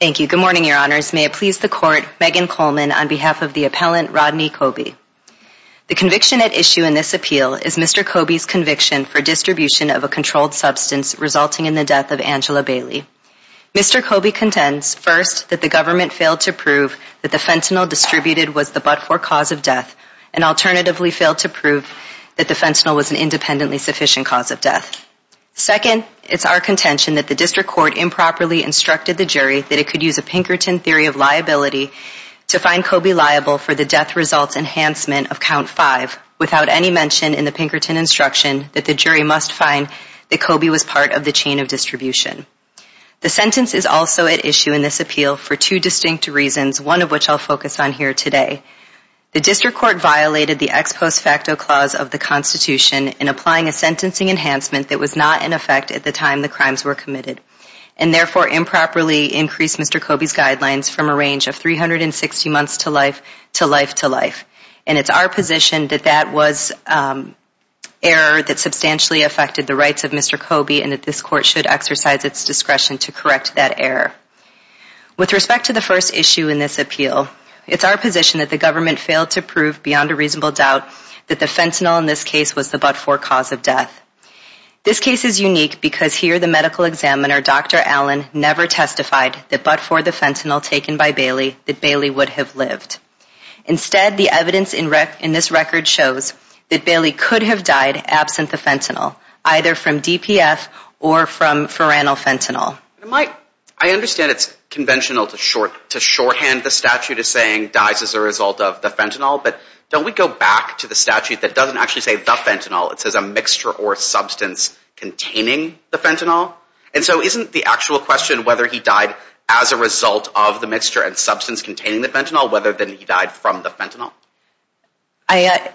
Thank you, good morning your honors. May it please the court, Megan Coleman on behalf of the appellant Rodney Coby. The conviction at issue in this appeal is Mr. Coby's conviction for distribution of a controlled substance resulting in the death of Angela Bailey. Mr. Coby contends, first, that the government failed to prove that the fentanyl distributed was the but-for cause of death, and alternatively failed to prove that the fentanyl was an independently sufficient cause of death. Second, it's our contention that the district court improperly instructed the jury that it could use a Pinkerton theory of liability to find Coby liable for the death results enhancement of count five, without any mention in the Pinkerton instruction that the jury must find that Coby was part of the chain of distribution. The sentence is also at issue in this appeal for two distinct reasons, one of which I'll focus on here today. The district court violated the ex post facto clause of the Constitution in applying a sentencing enhancement that was not in effect at the time the crimes were committed, and therefore improperly increased Mr. Coby's guidelines from a range of 360 months to life to life to life. And it's our position that that was error that substantially affected the rights of Mr. Coby and that this court should exercise its discretion to correct that error. With respect to the first issue in this appeal, it's our position that the government failed to prove beyond a reasonable doubt that the fentanyl in this case was the but-for cause of death. This case is unique because here the medical examiner, Dr. Allen, never testified that but-for the fentanyl taken by Bailey, that Bailey would have lived. Instead, the evidence in this record shows that Bailey could have died absent the fentanyl, either from DPF or from pharynal fentanyl. I understand it's conventional to shorthand the statute as saying dies as a result of the fentanyl, but don't we go back to the statute that doesn't actually say the fentanyl. It says a mixture or substance containing the fentanyl. And so isn't the actual question whether he died as a result of the mixture and substance containing the fentanyl whether than he died from the fentanyl?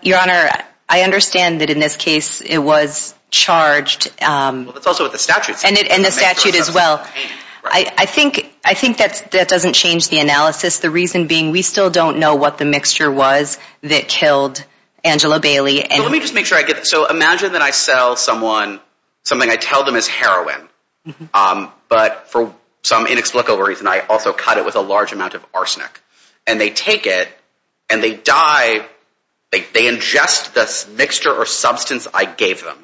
Your Honor, I understand that in this case it was charged. And the statute as well. I think that doesn't change the analysis. The reason being we still don't know what the mixture was that killed Angela Bailey. So let me just make sure I get this. So imagine that I sell someone something I tell them is heroin, but for some inexplicable reason I also cut it with a large amount of arsenic. And they take it and they die. They ingest the mixture or substance I gave them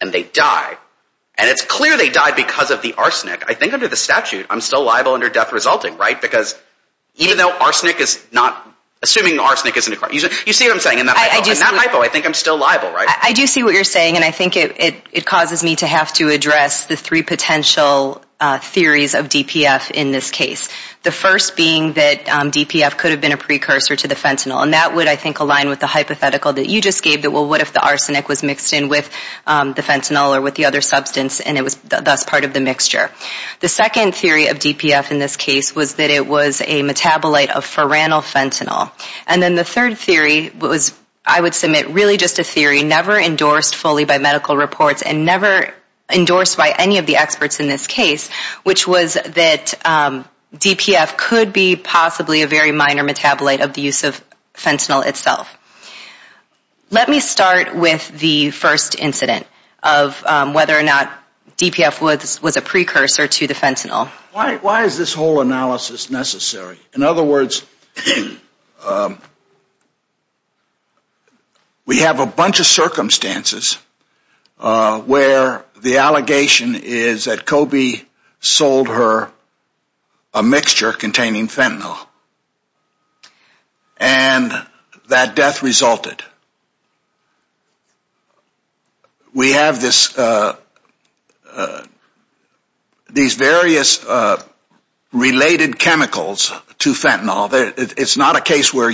and they die. And it's clear they died because of the arsenic. I think under the statute I'm still liable under death resulting, right? Because even though arsenic is not, assuming arsenic isn't a crime. You see what I'm saying in that hypo. In that hypo I think I'm still liable, right? I do see what you're saying and I think it causes me to have to address the three potential theories of DPF in this case. The first being that DPF could have been a precursor to the fentanyl. And that would, I think, align with the hypothetical that you just gave that, well, what if the arsenic was mixed in with the fentanyl or with the other substance and it was thus part of the mixture. The second theory of DPF in this case was that it was a metabolite of pharynal fentanyl. And then the third theory was I would submit really just a theory never endorsed fully by medical reports and never endorsed by any of the experts in this case, which was that DPF could be possibly a very minor metabolite of the use of fentanyl itself. Let me start with the first incident of whether or not DPF was a precursor to the fentanyl. Why is this whole analysis necessary? In other words, we have a bunch of circumstances where the allegation is that Kobe sold her a mixture containing fentanyl and that death resulted. We have these various related chemicals to fentanyl. It's not a case where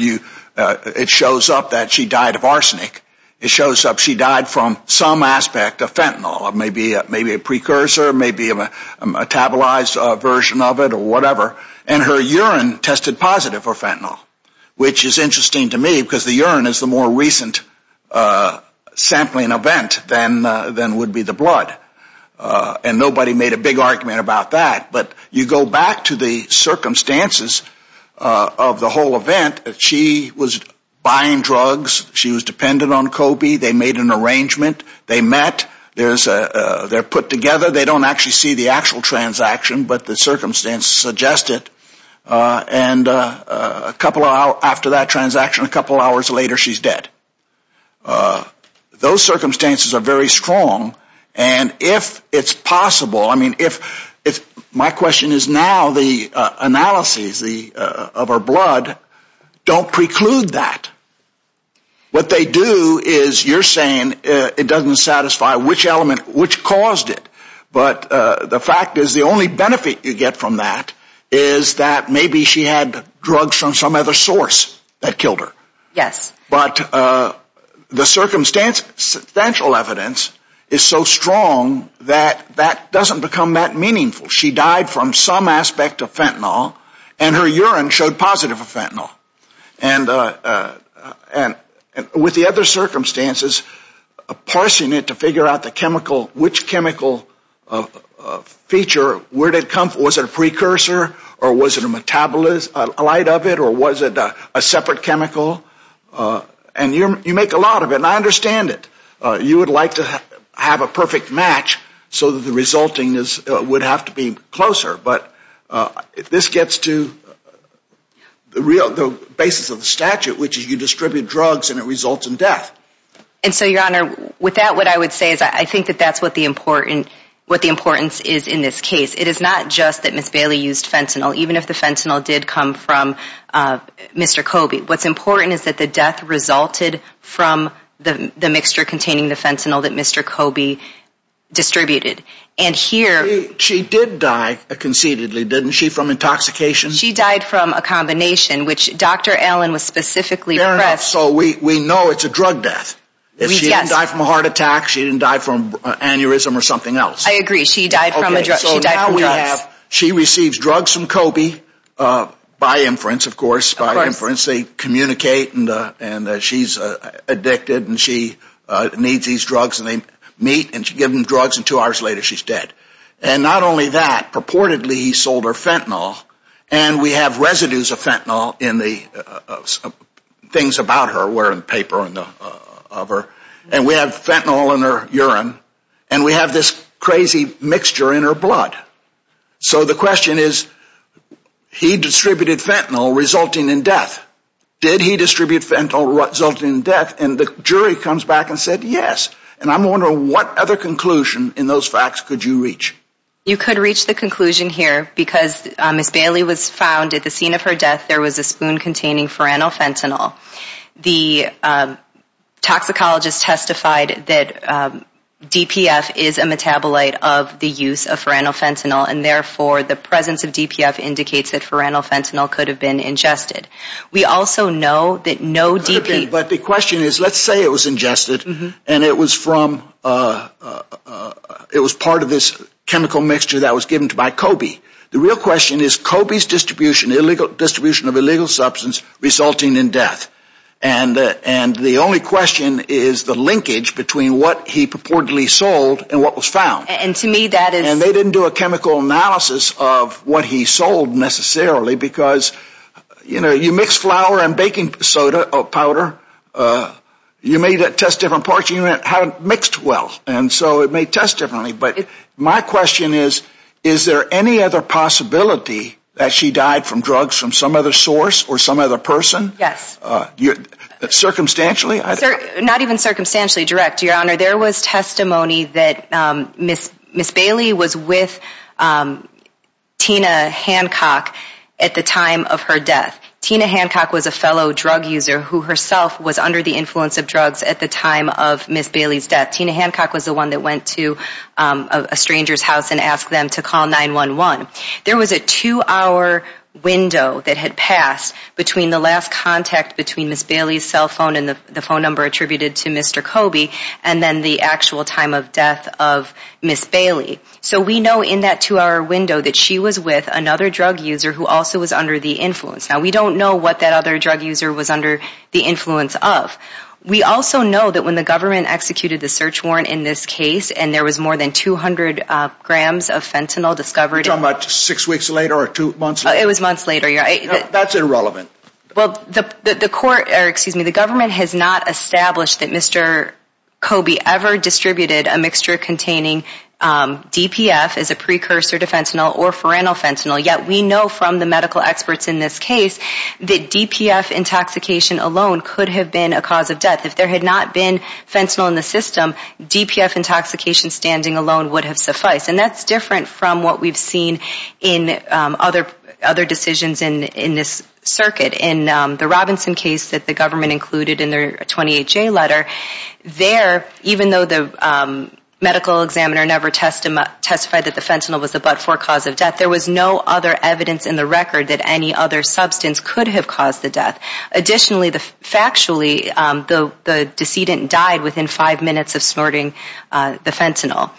it shows up that she died of arsenic. It shows up she died from some aspect of fentanyl, maybe a precursor, maybe a metabolized version of it or whatever. And her urine tested positive for fentanyl, which is interesting to me because the urine is the more recent sampling event than would be the blood. And nobody made a big argument about that. But you go back to the circumstances of the whole event. She was buying drugs. She was dependent on Kobe. They made an arrangement. They met. They're put together. They don't actually see the actual transaction, but the circumstances suggest it. And a couple of hours after that transaction, a couple of hours later, she's dead. Those circumstances are very strong. And if it's possible, I mean, my question is now the analyses of her blood don't preclude that. What they do is you're saying it doesn't satisfy which element which caused it. But the fact is the only benefit you get from that is that maybe she had drugs from some other source that killed her. Yes. But the circumstantial evidence is so strong that that doesn't become that meaningful. She died from some aspect of fentanyl, and her urine showed positive for fentanyl. And with the other circumstances, parsing it to figure out the chemical, which chemical feature, where did it come from? Was it a precursor, or was it a metabolite of it, or was it a separate chemical? And you make a lot of it, and I understand it. You would like to have a perfect match so that the resulting would have to be closer. But if this gets to the basis of the statute, which is you distribute drugs and it results in death. And so, Your Honor, with that, what I would say is I think that that's what the importance is in this case. It is not just that Ms. Bailey used fentanyl, even if the fentanyl did come from Mr. Kobe. What's important is that the death resulted from the mixture containing the fentanyl that Mr. Kobe distributed. She did die conceitedly, didn't she, from intoxication? She died from a combination, which Dr. Allen was specifically pressed. Fair enough. So we know it's a drug death. Yes. If she didn't die from a heart attack, she didn't die from aneurysm or something else. I agree. She died from drugs. So now we have, she receives drugs from Kobe, by inference, of course. Of course. By inference, they communicate and she's addicted and she needs these drugs and they meet and she gives them drugs and two hours later she's dead. And not only that, purportedly he sold her fentanyl and we have residues of fentanyl in the things about her, where in the paper of her. And we have fentanyl in her urine and we have this crazy mixture in her blood. So the question is, he distributed fentanyl resulting in death. Did he distribute fentanyl resulting in death? And the jury comes back and said, yes. And I'm wondering what other conclusion in those facts could you reach? You could reach the conclusion here because Ms. Bailey was found at the scene of her death. There was a spoon containing for fentanyl. The toxicologist testified that DPF is a metabolite of the use of fentanyl and therefore the presence of DPF indicates that fentanyl could have been ingested. We also know that no DPF. But the question is, let's say it was ingested and it was from, it was part of this chemical mixture that was given to by Kobe. The real question is Kobe's distribution, illegal distribution of illegal substance resulting in death. And the only question is the linkage between what he purportedly sold and what was found. And to me that is. And they didn't do a chemical analysis of what he sold necessarily because, you know, you mix flour and baking soda or powder. You may test different parts and you haven't mixed well. And so it may test differently. But my question is, is there any other possibility that she died from drugs from some other source or some other person? Yes. Circumstantially? Not even circumstantially direct, Your Honor. There was testimony that Ms. Bailey was with Tina Hancock at the time of her death. Tina Hancock was a fellow drug user who herself was under the influence of drugs at the time of Ms. Bailey's death. Tina Hancock was the one that went to a stranger's house and asked them to call 911. There was a two-hour window that had passed between the last contact between Ms. Bailey's cell phone and the phone number attributed to Mr. Kobe and then the actual time of death of Ms. Bailey. So we know in that two-hour window that she was with another drug user who also was under the influence. Now we don't know what that other drug user was under the influence of. We also know that when the government executed the search warrant in this case and there was more than 200 grams of fentanyl discovered. You're talking about six weeks later or two months later? It was months later, Your Honor. That's irrelevant. Well, the court or excuse me, the government has not established that Mr. Kobe ever distributed a mixture containing DPF as a precursor to fentanyl or foranofentanil. Yet we know from the medical experts in this case that DPF intoxication alone could have been a cause of death. If there had not been fentanyl in the system, DPF intoxication standing alone would have sufficed. And that's different from what we've seen in other decisions in this circuit. In the Robinson case that the government included in their 28-J letter, there, even though the medical examiner never testified that the fentanyl was the but-for cause of death, there was no other evidence in the record that any other substance could have caused the death. Additionally, factually, the decedent died within five minutes of snorting the fentanyl.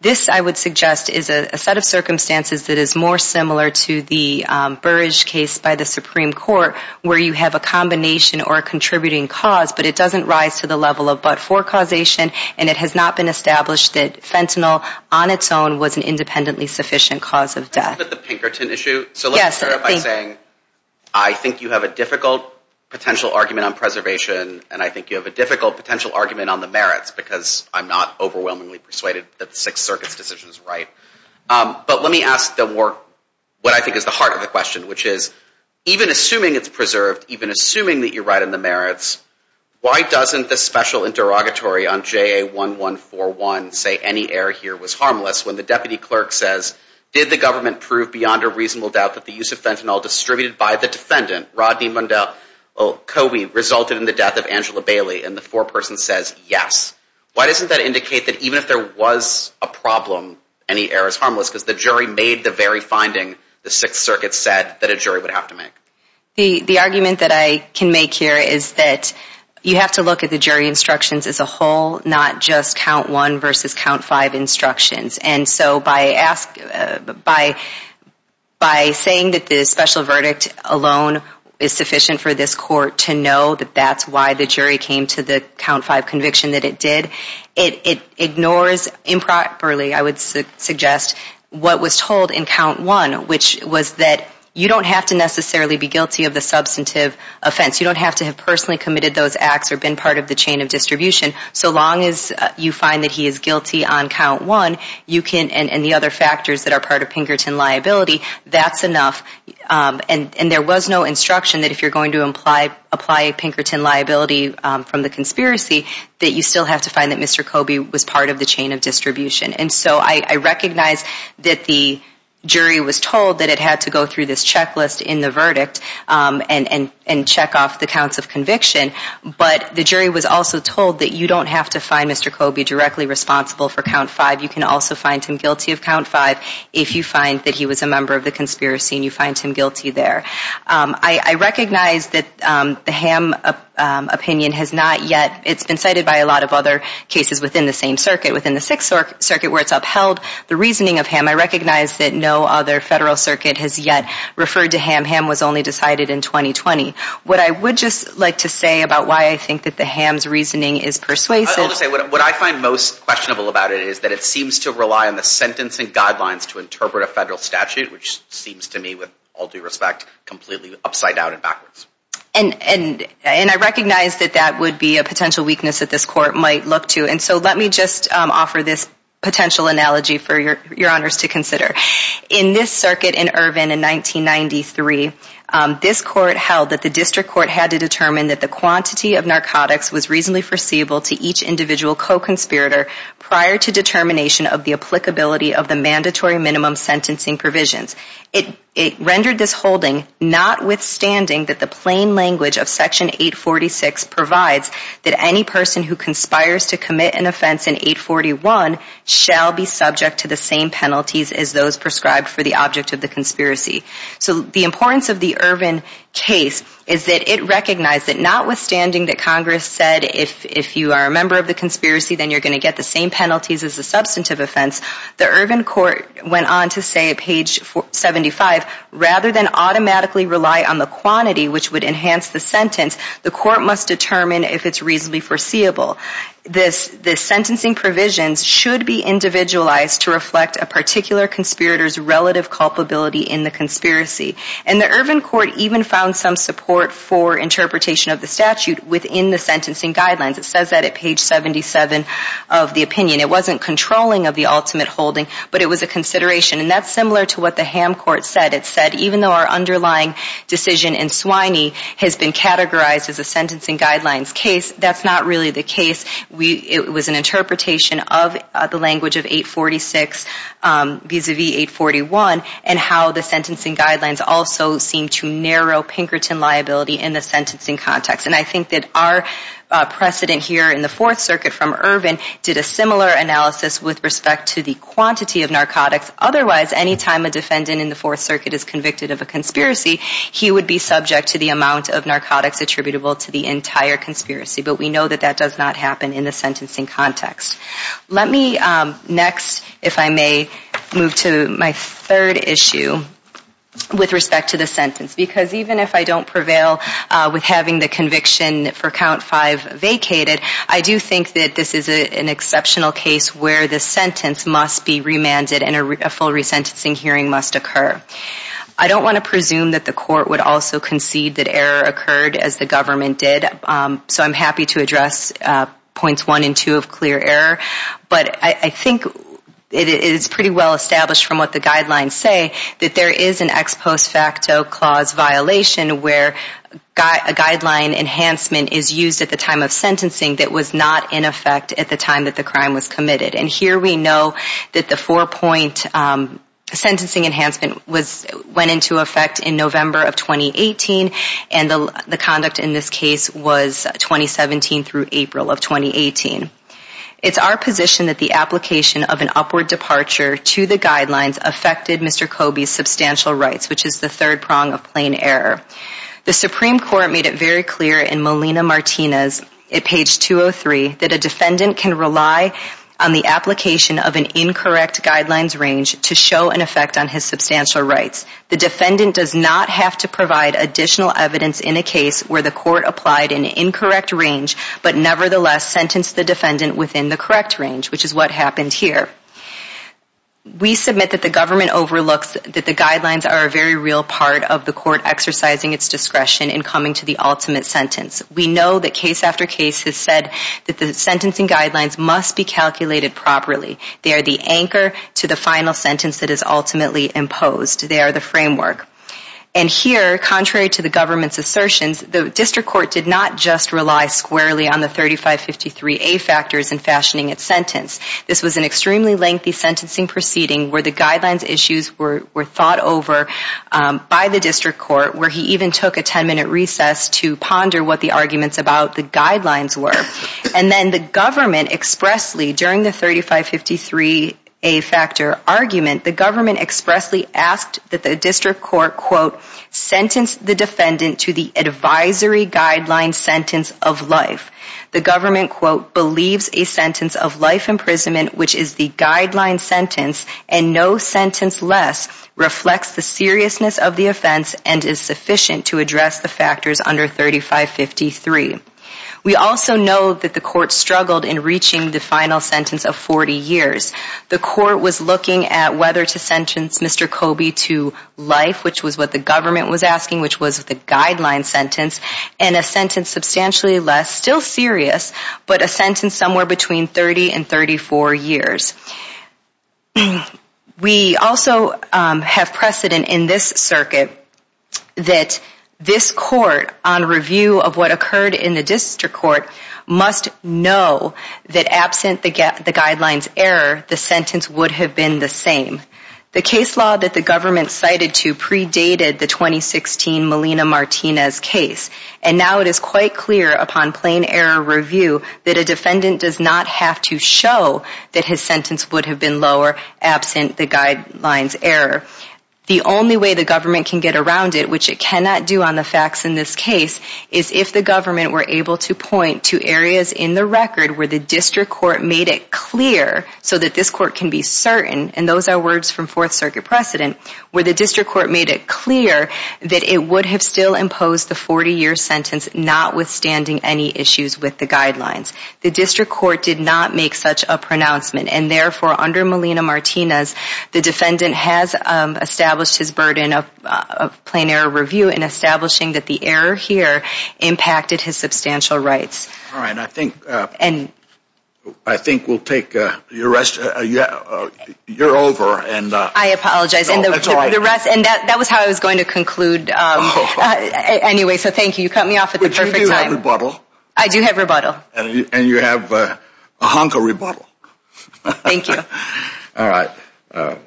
This, I would suggest, is a set of circumstances that is more similar to the Burrage case by the Supreme Court where you have a combination or a contributing cause but it doesn't rise to the level of but-for causation and it has not been established that fentanyl on its own was an independently sufficient cause of death. Let's look at the Pinkerton issue. So let me start by saying I think you have a difficult potential argument on preservation and I think you have a difficult potential argument on the merits because I'm not overwhelmingly persuaded that the Sixth Circuit's decision is right. But let me ask the work, what I think is the heart of the question, which is even assuming it's preserved, even assuming that you're right on the merits, why doesn't the special interrogatory on JA1141 say any error here was harmless when the deputy clerk says, did the government prove beyond a reasonable doubt that the use of fentanyl distributed by the defendant, Rodney Mundell Cobey, resulted in the death of Angela Bailey? And the foreperson says yes. Why doesn't that indicate that even if there was a problem, any error is harmless because the jury made the very finding the Sixth Circuit said that a jury would have to make? The argument that I can make here is that you have to look at the jury instructions as a whole, not just count one versus count five instructions. And so by saying that the special verdict alone is sufficient for this court to know that that's why the jury came to the count five conviction that it did, it ignores improperly, I would suggest, what was told in count one, which was that you don't have to necessarily be guilty of the substantive offense. You don't have to have personally committed those acts or been part of the chain of distribution. So long as you find that he is guilty on count one, you can, and the other factors that are part of Pinkerton liability, that's enough. And there was no instruction that if you're going to apply Pinkerton liability from the conspiracy, that you still have to find that Mr. Cobey was part of the chain of distribution. And so I recognize that the jury was told that it had to go through this checklist in the verdict and check off the counts of conviction. But the jury was also told that you don't have to find Mr. Cobey directly responsible for count five. You can also find him guilty of count five if you find that he was a member of the conspiracy and you find him guilty there. I recognize that the Ham opinion has not yet, it's been cited by a lot of other cases within the same circuit, within the Sixth Circuit where it's upheld the reasoning of Ham. I recognize that no other federal circuit has yet referred to Ham. Ham was only decided in 2020. What I would just like to say about why I think that the Ham's reasoning is persuasive. I would say what I find most questionable about it is that it seems to rely on the sentencing guidelines to interpret a federal statute, which seems to me, with all due respect, completely upside down and backwards. And I recognize that that would be a potential weakness that this court might look to. And so let me just offer this potential analogy for your honors to consider. In this circuit in Irvin in 1993, this court held that the district court had to determine that the quantity of narcotics was reasonably foreseeable to each individual co-conspirator prior to determination of the applicability of the mandatory minimum sentencing provisions. It rendered this holding notwithstanding that the plain language of Section 846 provides that any person who conspires to commit an offense in 841 shall be subject to the same penalties as those prescribed for the object of the conspiracy. So the importance of the Irvin case is that it recognized that notwithstanding that Congress said if you are a member of the conspiracy, then you're going to get the same penalties as a substantive offense, the Irvin court went on to say at page 75, rather than automatically rely on the quantity which would enhance the sentence, the court must determine if it's reasonably foreseeable. The sentencing provisions should be individualized to reflect a particular conspirator's relative culpability in the conspiracy. And the Irvin court even found some support for interpretation of the statute within the sentencing guidelines. It says that at page 77 of the opinion. It wasn't controlling of the ultimate holding, but it was a consideration. And that's similar to what the Hamm court said. It said even though our underlying decision in Swiney has been categorized as a sentencing guidelines case, that's not really the case. It was an interpretation of the language of 846 vis-a-vis 841 and how the sentencing guidelines also seem to narrow Pinkerton liability in the sentencing context. And I think that our precedent here in the Fourth Circuit from Irvin did a similar analysis with respect to the quantity of narcotics. Otherwise, any time a defendant in the Fourth Circuit is convicted of a conspiracy, he would be subject to the amount of narcotics attributable to the entire conspiracy. But we know that that does not happen in the sentencing context. Let me next, if I may, move to my third issue with respect to the sentence. Because even if I don't prevail with having the conviction for count five vacated, I do think that this is an exceptional case where the sentence must be remanded and a full resentencing hearing must occur. I don't want to presume that the court would also concede that error occurred as the government did. So I'm happy to address points one and two of clear error. But I think it is pretty well established from what the guidelines say that there is an ex post facto clause violation where a guideline enhancement is used at the time of sentencing that was not in effect at the time that the crime was committed. And here we know that the four-point sentencing enhancement went into effect in November of 2018, and the conduct in this case was 2017 through April of 2018. It's our position that the application of an upward departure to the guidelines affected Mr. Kobe's substantial rights, which is the third prong of plain error. The Supreme Court made it very clear in Molina-Martinez at page 203 that a defendant can rely on the application of an incorrect guidelines range to show an effect on his substantial rights. The defendant does not have to provide additional evidence in a case where the court applied an incorrect range but nevertheless sentenced the defendant within the correct range, which is what happened here. We submit that the government overlooks that the guidelines are a very real part of the court exercising its discretion in coming to the ultimate sentence. We know that case after case has said that the sentencing guidelines must be calculated properly. They are the anchor to the final sentence that is ultimately imposed. They are the framework. And here, contrary to the government's assertions, the district court did not just rely squarely on the 3553A factors in fashioning its sentence. This was an extremely lengthy sentencing proceeding where the guidelines issues were thought over by the district court, where he even took a 10-minute recess to ponder what the arguments about the guidelines were. And then the government expressly, during the 3553A factor argument, the government expressly asked that the district court, quote, sentence the defendant to the advisory guideline sentence of life. The government, quote, believes a sentence of life imprisonment, which is the guideline sentence, and no sentence less, reflects the seriousness of the offense and is sufficient to address the factors under 3553. We also know that the court struggled in reaching the final sentence of 40 years. The court was looking at whether to sentence Mr. Kobe to life, which was what the government was asking, which was the guideline sentence, and a sentence substantially less, still serious, but a sentence somewhere between 30 and 34 years. We also have precedent in this circuit that this court, on review of what occurred in the district court, must know that absent the guidelines error, the sentence would have been the same. The case law that the government cited to predated the 2016 Melina Martinez case, and now it is quite clear upon plain error review that a defendant does not have to show that his sentence would have been lower absent the guidelines error. The only way the government can get around it, which it cannot do on the facts in this case, is if the government were able to point to areas in the record where the district court made it clear so that this court can be certain, and those are words from Fourth Circuit precedent, where the district court made it clear that it would have still imposed the 40-year sentence notwithstanding any issues with the guidelines. The district court did not make such a pronouncement, and therefore, under Melina Martinez, the defendant has established his burden of plain error review in establishing that the error here impacted his substantial rights. All right, I think we'll take your rest. You're over. I apologize, and that was how I was going to conclude. Anyway, so thank you. You cut me off at the perfect time. But you do have rebuttal. I do have rebuttal. And you have a hunk of rebuttal. Thank you. All right. Why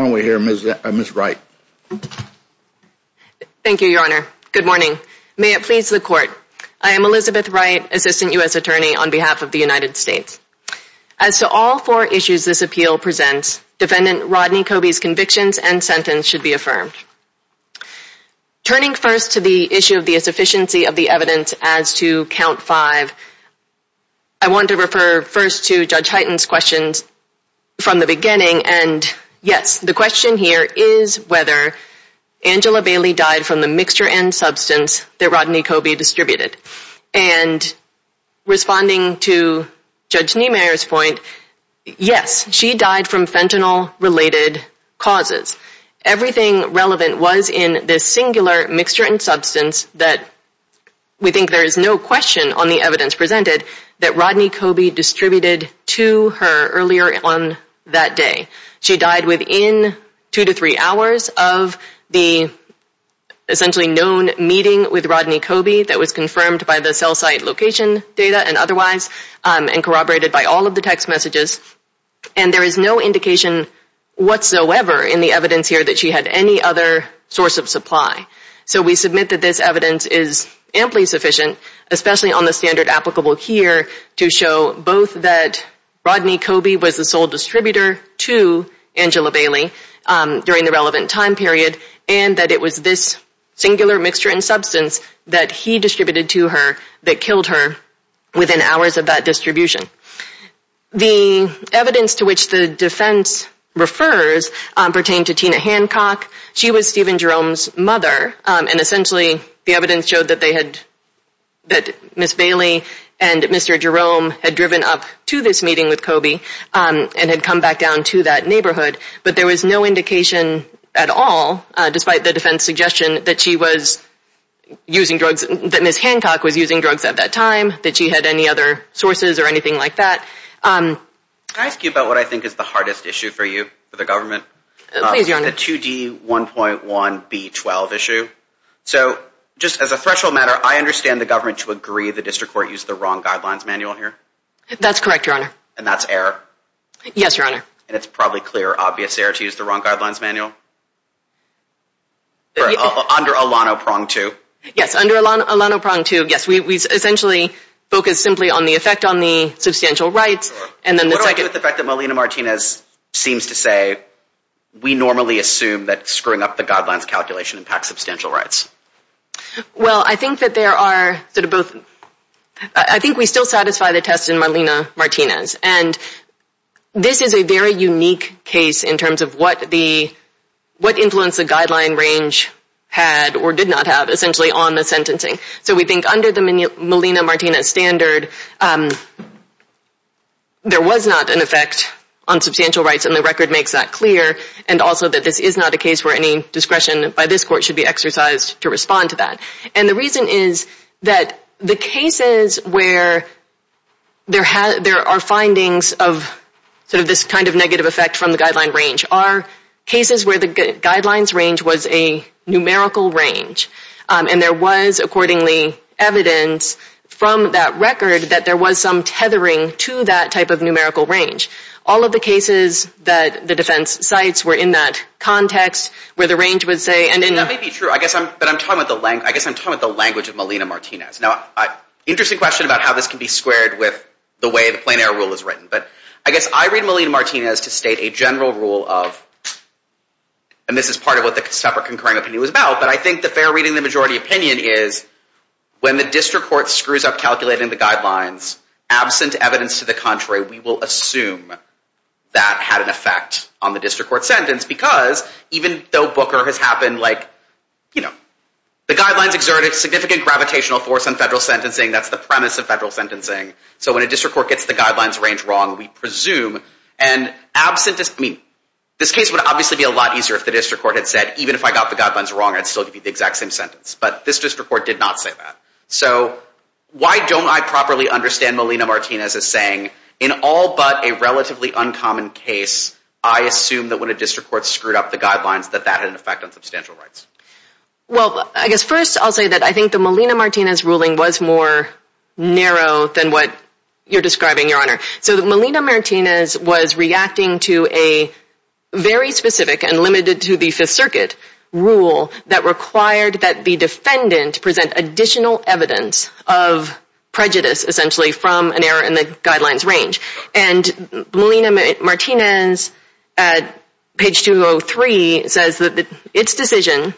don't we hear Ms. Wright. Thank you, Your Honor. Good morning. May it please the Court. I am Elizabeth Wright, Assistant U.S. Attorney on behalf of the United States. As to all four issues this appeal presents, Defendant Rodney Coby's convictions and sentence should be affirmed. Turning first to the issue of the insufficiency of the evidence as to Count 5, I want to refer first to Judge Hyten's questions from the beginning, and yes, the question here is whether Angela Bailey died from the mixture and substance that Rodney Coby distributed. And responding to Judge Niemeyer's point, yes, she died from fentanyl-related causes. Everything relevant was in this singular mixture and substance that we think there is no question on the evidence presented that Rodney Coby distributed to her earlier on that day. She died within two to three hours of the essentially known meeting with Rodney Coby that was confirmed by the cell site location data and otherwise and corroborated by all of the text messages. And there is no indication whatsoever in the evidence here that she had any other source of supply. So we submit that this evidence is amply sufficient, especially on the standard applicable here to show both that Rodney Coby was the sole distributor to Angela Bailey during the relevant time period and that it was this singular mixture and substance that he distributed to her that killed her within hours of that distribution. The evidence to which the defense refers pertain to Tina Hancock. She was Stephen Jerome's mother, and essentially the evidence showed that Ms. Bailey and Mr. Jerome had driven up to this meeting with Coby and had come back down to that neighborhood. But there was no indication at all, despite the defense suggestion, that Ms. Hancock was using drugs at that time, that she had any other sources or anything like that. Can I ask you about what I think is the hardest issue for you, for the government? Please, Your Honor. The 2D1.1B12 issue. So, just as a threshold matter, I understand the government to agree the district court used the wrong guidelines manual here? That's correct, Your Honor. And that's error? Yes, Your Honor. And it's probably clear, obvious error to use the wrong guidelines manual? Under Alano Prong 2? Yes, under Alano Prong 2, yes. We essentially focus simply on the effect on the substantial rights and then the second... we normally assume that screwing up the guidelines calculation impacts substantial rights. Well, I think that there are sort of both... I think we still satisfy the test in Malina Martinez. And this is a very unique case in terms of what the... what influence the guideline range had or did not have, essentially, on the sentencing. So we think under the Malina Martinez standard, there was not an effect on substantial rights, and the record makes that clear. And also that this is not a case where any discretion by this court should be exercised to respond to that. And the reason is that the cases where there are findings of sort of this kind of negative effect from the guideline range are cases where the guidelines range was a numerical range. And there was, accordingly, evidence from that record that there was some tethering to that type of numerical range. All of the cases that the defense cites were in that context where the range would say... That may be true, but I guess I'm talking about the language of Malina Martinez. Now, interesting question about how this can be squared with the way the plain error rule is written. But I guess I read Malina Martinez to state a general rule of... is when the district court screws up calculating the guidelines, absent evidence to the contrary, we will assume that had an effect on the district court sentence. Because even though Booker has happened, like, you know, the guidelines exerted significant gravitational force on federal sentencing. That's the premise of federal sentencing. So when a district court gets the guidelines range wrong, we presume. And absent... I mean, this case would obviously be a lot easier if the district court had said, even if I got the guidelines wrong, I'd still give you the exact same sentence. But this district court did not say that. So why don't I properly understand Malina Martinez as saying, in all but a relatively uncommon case, I assume that when a district court screwed up the guidelines that that had an effect on substantial rights? Well, I guess first I'll say that I think the Malina Martinez ruling was more narrow than what you're describing, Your Honor. So Malina Martinez was reacting to a very specific and limited-to-the-Fifth-Circuit rule that required that the defendant present additional evidence of prejudice, essentially, from an error in the guidelines range. And Malina Martinez, at page 203, says that its decision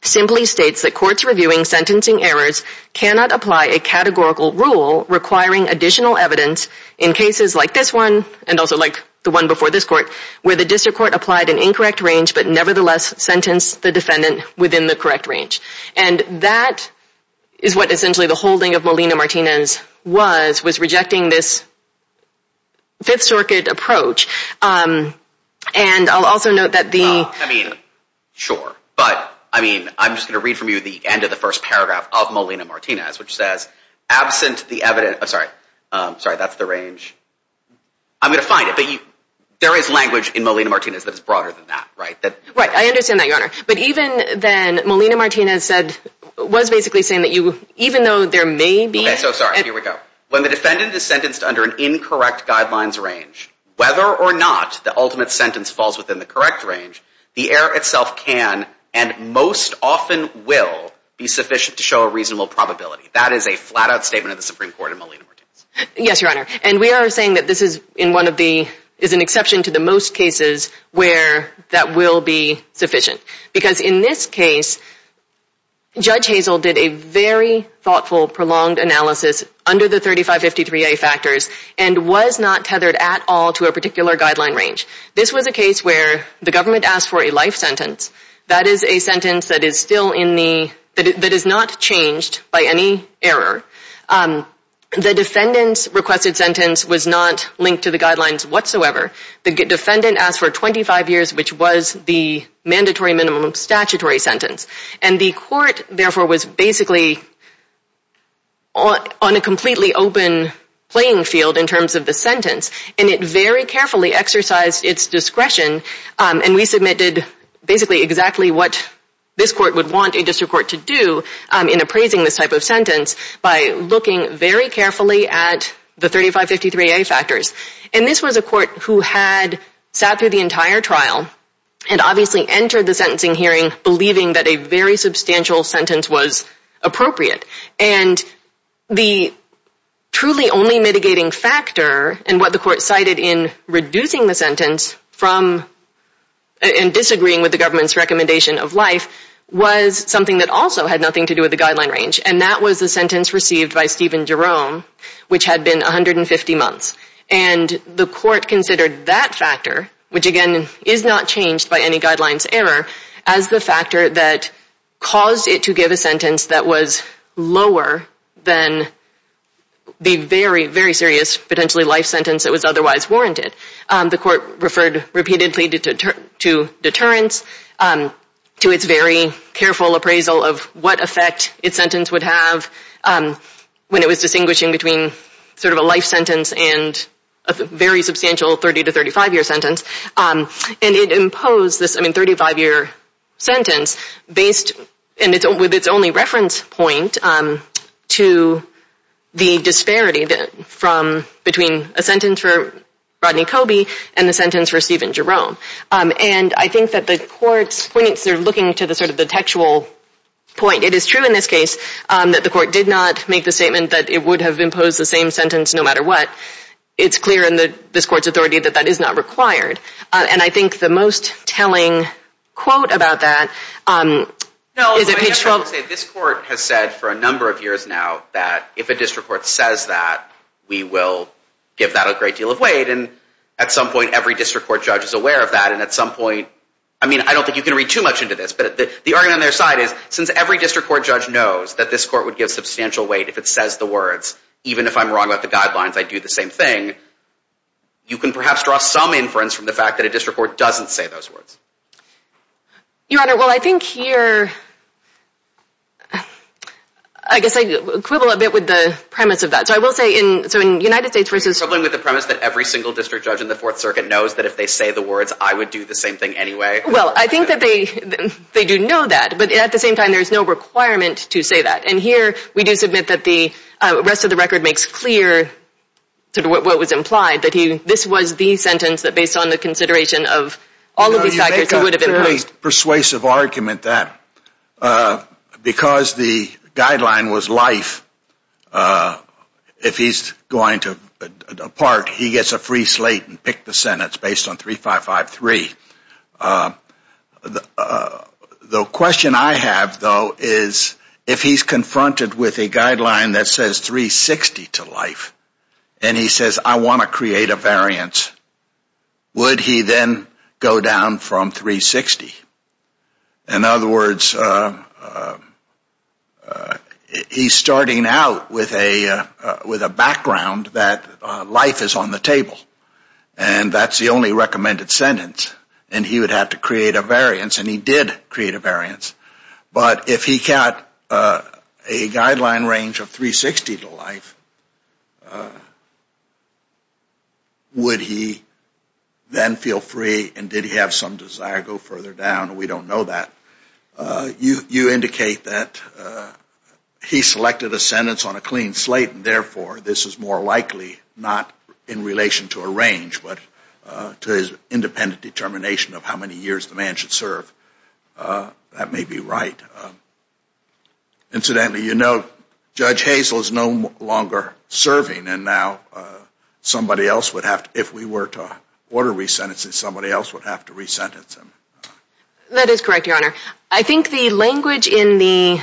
simply states that courts reviewing sentencing errors cannot apply a categorical rule requiring additional evidence in cases like this one, and also like the one before this court, where the district court applied an incorrect range but nevertheless sentenced the defendant within the correct range. And that is what essentially the holding of Malina Martinez was, was rejecting this Fifth Circuit approach. And I'll also note that the... Sure, but, I mean, I'm just going to read from you the end of the first paragraph of Malina Martinez, which says, absent the evidence... I'm sorry, sorry, that's the range. I'm going to find it, but you... There is language in Malina Martinez that is broader than that, right? Right, I understand that, Your Honor. But even then, Malina Martinez said... was basically saying that you... even though there may be... Okay, so sorry, here we go. When the defendant is sentenced under an incorrect guidelines range, whether or not the ultimate sentence falls within the correct range, the error itself can and most often will be sufficient to show a reasonable probability. That is a flat-out statement of the Supreme Court in Malina Martinez. Yes, Your Honor. And we are saying that this is in one of the... is an exception to the most cases where that will be sufficient. Because in this case, Judge Hazel did a very thoughtful, prolonged analysis under the 3553A factors and was not tethered at all to a particular guideline range. This was a case where the government asked for a life sentence. That is a sentence that is still in the... that is not changed by any error. The defendant's requested sentence was not linked to the guidelines whatsoever. The defendant asked for 25 years, which was the mandatory minimum statutory sentence. And the court, therefore, was basically on a completely open playing field in terms of the sentence. And it very carefully exercised its discretion. And we submitted basically exactly what this court would want a district court to do in appraising this type of sentence by looking very carefully at the 3553A factors. And this was a court who had sat through the entire trial and obviously entered the sentencing hearing believing that a very substantial sentence was appropriate. And the truly only mitigating factor in what the court cited in reducing the sentence from disagreeing with the government's recommendation of life was something that also had nothing to do with the guideline range. And that was the sentence received by Stephen Jerome, which had been 150 months. And the court considered that factor, which again is not changed by any guidelines error, as the factor that caused it to give a sentence that was lower than the very, very serious potentially life sentence that was otherwise warranted. The court referred repeatedly to deterrence, to its very careful appraisal of what effect its sentence would have when it was distinguishing between sort of a life sentence and a very substantial 30- to 35-year sentence. And it imposed this, I mean, 35-year sentence based with its only reference point to the disparity between a sentence for Rodney Coby and a sentence for Stephen Jerome. And I think that the court's points are looking to the textual point. It is true in this case that the court did not make the statement that it would have imposed the same sentence no matter what. It's clear in this court's authority that that is not required. And I think the most telling quote about that is in page 12. This court has said for a number of years now that if a district court says that, we will give that a great deal of weight. And at some point, every district court judge is aware of that. And at some point, I mean, I don't think you can read too much into this, but the argument on their side is since every district court judge knows that this court would give substantial weight if it says the words, even if I'm wrong about the guidelines, I'd do the same thing, you can perhaps draw some inference from the fact that a district court doesn't say those words. Your Honor, well, I think here... I guess I quibble a bit with the premise of that. So I will say in the United States versus... You're quibbling with the premise that every single district judge in the Fourth Circuit knows that if they say the words, I would do the same thing anyway? Well, I think that they do know that, but at the same time, there is no requirement to say that. And here, we do submit that the rest of the record makes clear what was implied, that this was the sentence that based on the consideration of all of these factors... Your Honor, you make a persuasive argument that because the guideline was life, if he's going to depart, he gets a free slate and pick the sentence based on 3553. The question I have, though, is if he's confronted with a guideline that says 360 to life, and he says, I want to create a variance, would he then go down from 360? In other words, he's starting out with a background that life is on the table, and that's the only recommended sentence, and he would have to create a variance, and he did create a variance. But if he got a guideline range of 360 to life, would he then feel free, and did he have some desire to go further down? We don't know that. You indicate that he selected a sentence on a clean slate, and therefore, this is more likely not in relation to a range, but to his independent determination of how many years the man should serve. That may be right. Incidentally, you note Judge Hazel is no longer serving, and now somebody else would have to, if we were to order resentencing, somebody else would have to resentence him. That is correct, Your Honor. I think the language in the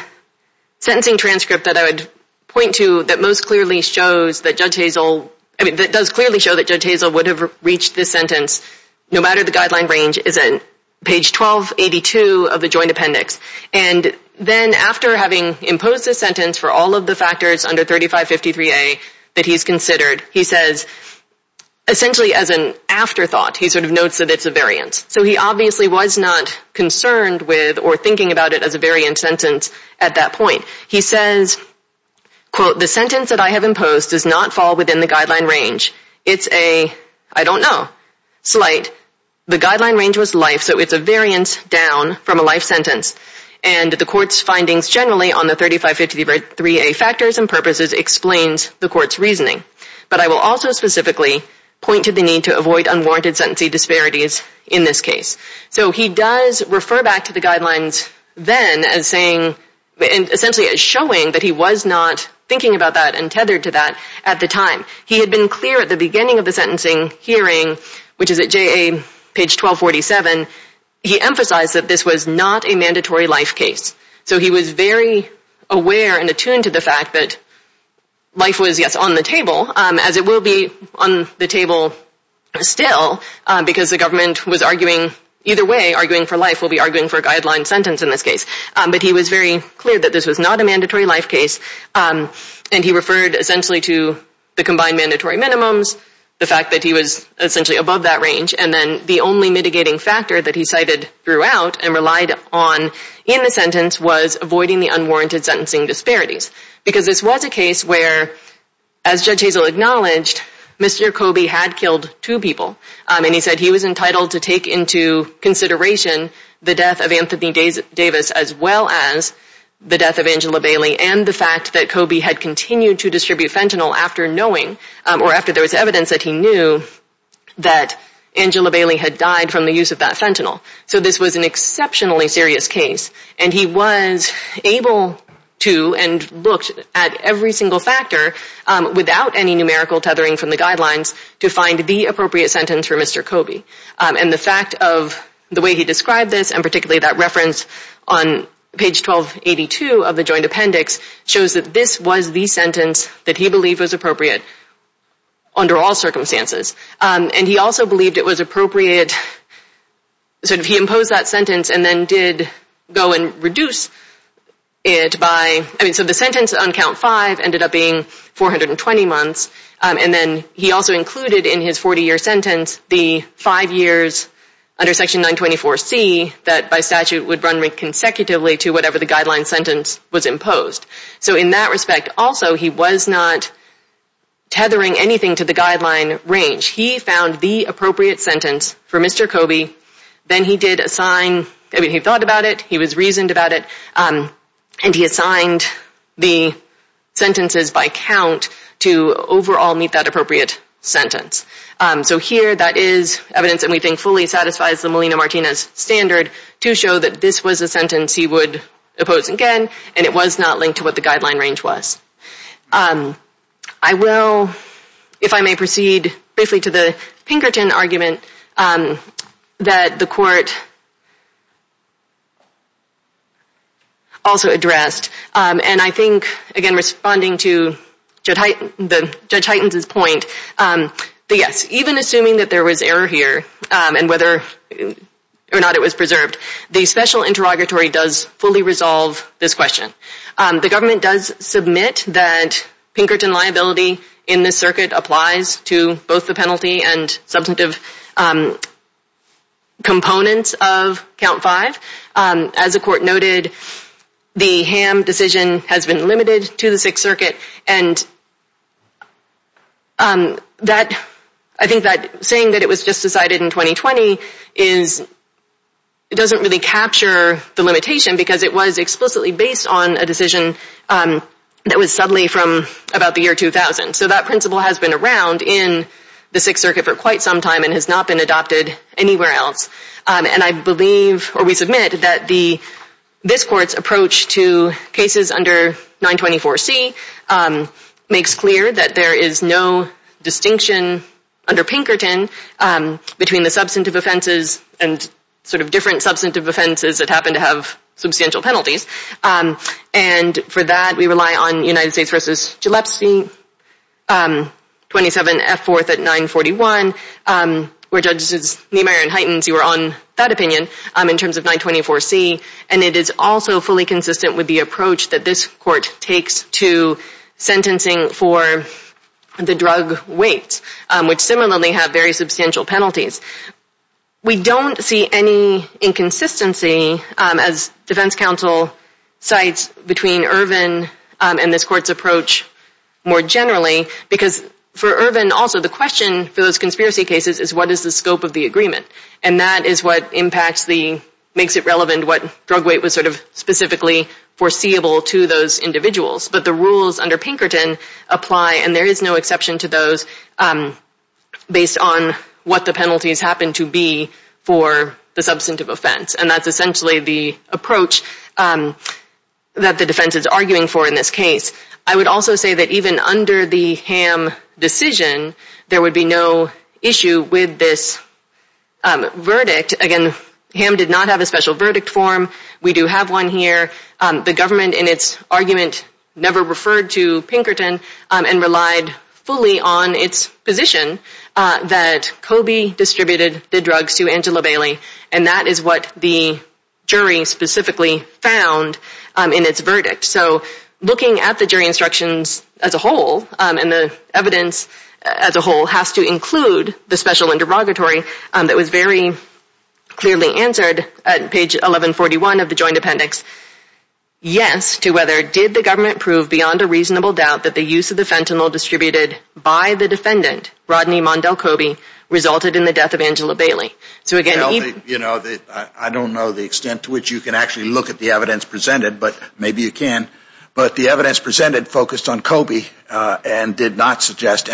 sentencing transcript that I would point to that most clearly shows that Judge Hazel would have reached this sentence, no matter the guideline range, is on page 1282 of the joint appendix. And then after having imposed this sentence for all of the factors under 3553A that he's considered, he says, essentially as an afterthought, he sort of notes that it's a variance. So he obviously was not concerned with or thinking about it as a variance sentence at that point. He says, quote, the sentence that I have imposed does not fall within the guideline range. It's a, I don't know, slight. The guideline range was life, so it's a variance down from a life sentence. And the court's findings generally on the 3553A factors and purposes explains the court's reasoning. But I will also specifically point to the need to avoid unwarranted sentencing disparities in this case. So he does refer back to the guidelines then as saying, essentially as showing that he was not thinking about that and tethered to that at the time. He had been clear at the beginning of the sentencing hearing, which is at JA page 1247, he emphasized that this was not a mandatory life case. So he was very aware and attuned to the fact that life was, yes, on the table, as it will be on the table still, because the government was arguing, either way, arguing for life. We'll be arguing for a guideline sentence in this case. But he was very clear that this was not a mandatory life case. And he referred essentially to the combined mandatory minimums, the fact that he was essentially above that range, and then the only mitigating factor that he cited throughout and relied on in the sentence was avoiding the unwarranted sentencing disparities, because this was a case where, as Judge Hazel acknowledged, Mr. Kobe had killed two people. And he said he was entitled to take into consideration the death of Anthony Davis as well as the death of Angela Bailey and the fact that Kobe had continued to distribute fentanyl after knowing, or after there was evidence that he knew that Angela Bailey had died from the use of that fentanyl. So this was an exceptionally serious case. And he was able to and looked at every single factor without any numerical tethering from the guidelines to find the appropriate sentence for Mr. Kobe. And the fact of the way he described this, and particularly that reference on page 1282 of the Joint Appendix shows that this was the sentence that he believed was appropriate under all circumstances. And he also believed it was appropriate, so he imposed that sentence and then did go and reduce it by, I mean, so the sentence on count five ended up being 420 months. And then he also included in his 40-year sentence the five years under Section 924C that by statute would run consecutively to whatever the guideline sentence was imposed. So in that respect, also, he was not tethering anything to the guideline range. He found the appropriate sentence for Mr. Kobe, then he did assign, I mean, he thought about it, he was reasoned about it, and he assigned the sentences by count to overall meet that appropriate sentence. So here that is evidence that we think fully satisfies the Molina-Martinez standard to show that this was a sentence he would impose again, and it was not linked to what the guideline range was. I will, if I may proceed briefly to the Pinkerton argument that the Court, also addressed. And I think, again, responding to Judge Heitens' point, that yes, even assuming that there was error here and whether or not it was preserved, the special interrogatory does fully resolve this question. The government does submit that Pinkerton liability in this circuit applies to both the penalty and substantive components of Count 5. As the Court noted, the Ham decision has been limited to the Sixth Circuit, and I think that saying that it was just decided in 2020 doesn't really capture the limitation because it was explicitly based on a decision that was suddenly from about the year 2000. So that principle has been around in the Sixth Circuit for quite some time and has not been adopted anywhere else. And I believe, or we submit, that this Court's approach to cases under 924C makes clear that there is no distinction under Pinkerton between the substantive offenses and sort of different substantive offenses that happen to have substantial penalties. And for that, we rely on United States v. Gillespie, 27F4 at 941, where Judges Niemeyer and Heitens, you were on that opinion, in terms of 924C, and it is also fully consistent with the approach that this Court takes to sentencing for the drug weight, which similarly have very substantial penalties. We don't see any inconsistency as Defense Counsel cites between Ervin and this Court's approach more generally because for Ervin also the question for those conspiracy cases is what is the scope of the agreement? And that is what impacts the, makes it relevant, what drug weight was sort of specifically foreseeable to those individuals. But the rules under Pinkerton apply and there is no exception to those based on what the penalties happen to be for the substantive offense. And that's essentially the approach that the defense is arguing for in this case. I would also say that even under the Ham decision, there would be no issue with this verdict. Again, Ham did not have a special verdict form. We do have one here. The government in its argument never referred to Pinkerton and relied fully on its position that Coby distributed the drugs to Angela Bailey, and that is what the jury specifically found in its verdict. So looking at the jury instructions as a whole and the evidence as a whole has to include the special interrogatory that was very clearly answered at page 1141 of the Ham verdict, the government proved beyond a reasonable doubt that the use of the fentanyl distributed by the defendant, Rodney Mondell Coby, resulted in the death of Angela Bailey. So again... Well, I don't know the extent to which you can actually look at the evidence presented, but maybe you can. But the evidence presented focused on Coby and did not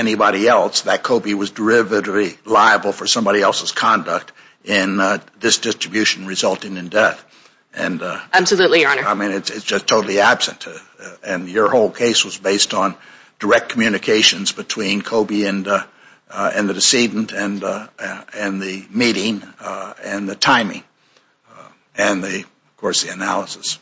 and your whole case was based on direct communications between Coby and the decedent and the meeting and the timing and, of course, the analysis.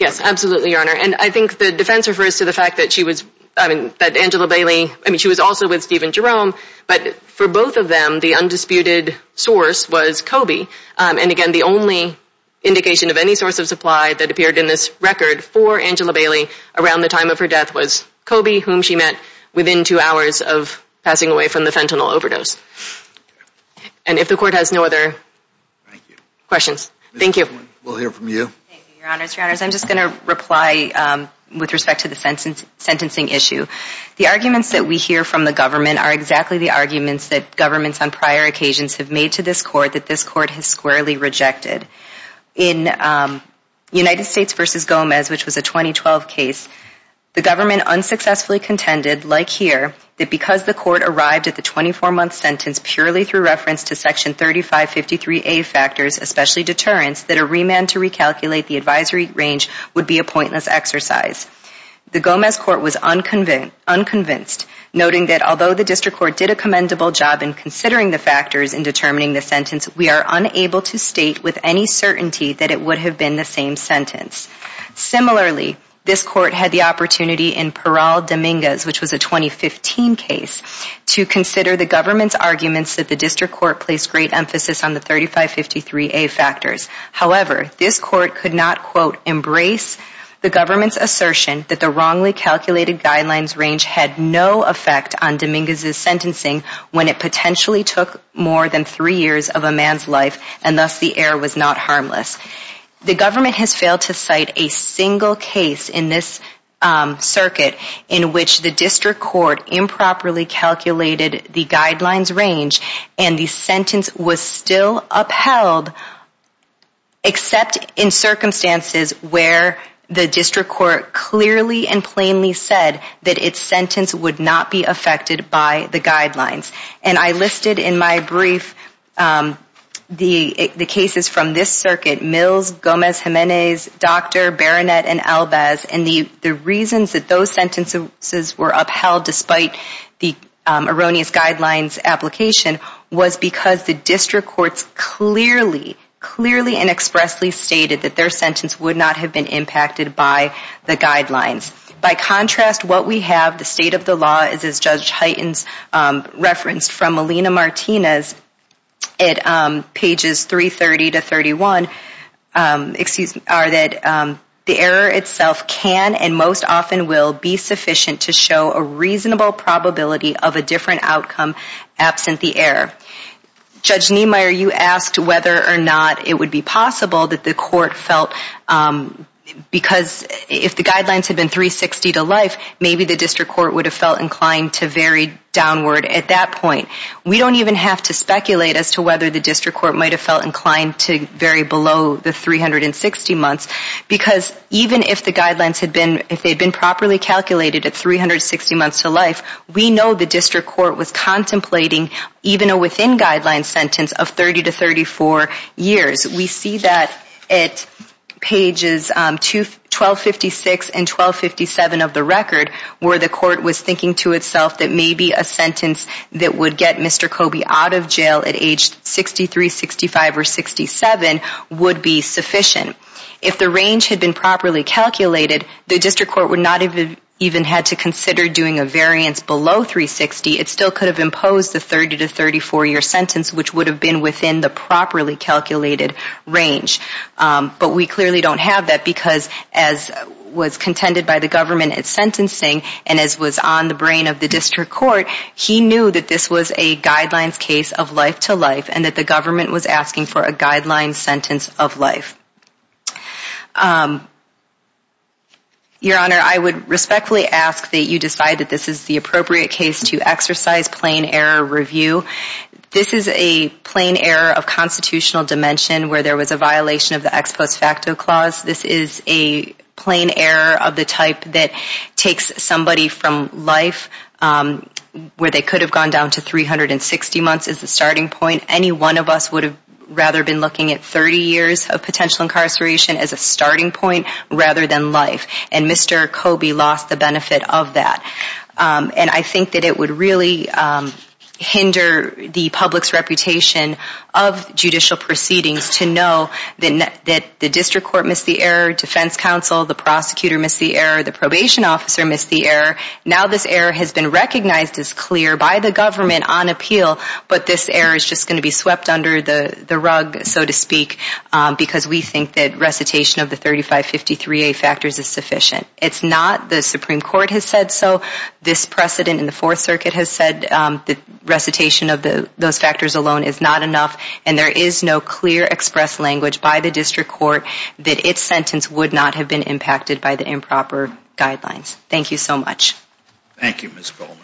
Yes, absolutely, Your Honor. And I think the defense refers to the fact that she was, I mean, that Angela Bailey, I mean, she was also with Stephen Jerome, but for both of them, the undisputed source was Coby. And again, the only indication of any source of supply that appeared in this record for Angela Bailey around the time of her death was Coby, whom she met within two hours of passing away from the fentanyl overdose. And if the Court has no other questions, thank you. We'll hear from you. Your Honor, I'm just going to reply with respect to the sentencing issue. The arguments that we hear from the government are exactly the arguments that governments on prior occasions have made to this Court that this Court has squarely rejected. In United States v. Gomez, which was a 2012 case, the government unsuccessfully contended, like here, that because the Court arrived at the 24-month sentence purely through reference to Section 3553A factors, especially deterrence, that a remand to recalculate the advisory range would be a pointless exercise. The Gomez Court was unconvinced, noting that although the District Court did a commendable job in considering the factors in determining the sentence, we are unable to state with any certainty that it would have been the same sentence. Similarly, this Court had the opportunity in Peral Dominguez, which was a 2015 case, to consider the government's arguments that the District Court placed great importance on the advisory factors. However, this Court could not quote, embrace the government's assertion that the wrongly calculated guidelines range had no effect on Dominguez's sentencing when it potentially took more than three years of a man's life and thus the error was not harmless. The government has failed to cite a single case in this circuit in which the District Court improperly calculated the guidelines range and the sentence was still upheld, except in circumstances where the District Court clearly and plainly said that its sentence would not be affected by the guidelines. And I listed in my brief the cases from this circuit, Mills, Gomez, Jimenez, Docter, Berenet, and Albaz, and the reasons that those sentences were upheld despite did not have a clear understanding of the guidelines. By contrast, what we have, the state of the law, is as Judge Hyten's referenced from Melina Martinez at pages 330 to 31, excuse me, are that the error itself can and most often will be sufficient to show a reasonable probability of a different reasonable probability of a different outcome absent the error. Judge Niemeyer, you asked whether or not it would be possible that the court felt, because if the guidelines had been 360 to life, maybe the District Court would have felt inclined to vary downward at that point. We don't even have to speculate as to whether the District Court might have felt inclined to vary below the 360 months because even if the guidelines had been, if they had been properly calculated at 360 months to life, we know the District Court was contemplating even a within guidelines sentence of 30 to 34 years. We see that at pages 1256 and 1257 of the record where the court was thinking to itself that maybe a sentence that would get Mr. Kobe out of jail at age 63, 65, or 67 would be sufficient. If the range had been properly calculated, the District Court would not have even had to consider doing a variant sentence. Below 360, it still could have imposed a 30 to 34-year sentence which would have been within the properly calculated range. But we clearly don't have that because as was contended by the government at sentencing and as was on the brain of the District Court, he knew that this was a guidelines case of life-to-life and that the government was asking for a guidelines sentence of life. Your Honor, I would respectfully ask that you decide that this is the appropriate case to exercise plain error review. This is a plain error of constitutional dimension where there was a violation of the ex post facto clause. This is a plain error of the type that takes somebody from life where they could have gone down to 360 months as the starting point. Any one of us would have rather been looking at 30 years of potential incarceration as the starting point. Mr. Kobe lost the benefit of that. And I think that it would really hinder the public's reputation of judicial proceedings to know that the District Court missed the error, defense counsel, the prosecutor missed the error, the probation officer missed the error. Now this error has been recognized as clear by the government on appeal, but this error is just going to be swept under the rug, so to speak, because we think that recitation of the 3553A factors is sufficient. It's not. The Supreme Court has said so. This precedent in the Fourth Circuit has said that recitation of those factors alone is not enough, and there is no clear express language by the District Court that its sentence would not have been impacted by the improper guidelines. Thank you so much. Thank you, Ms. Bowman.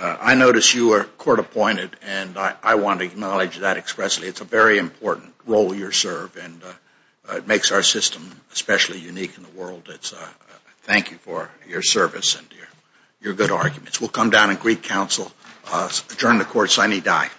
I notice you were court appointed, and I appreciate that. It's a pleasure to serve, and it makes our system especially unique in the world. Thank you for your service and your good arguments. We'll come down and greet counsel. Adjourn the court. Signee die.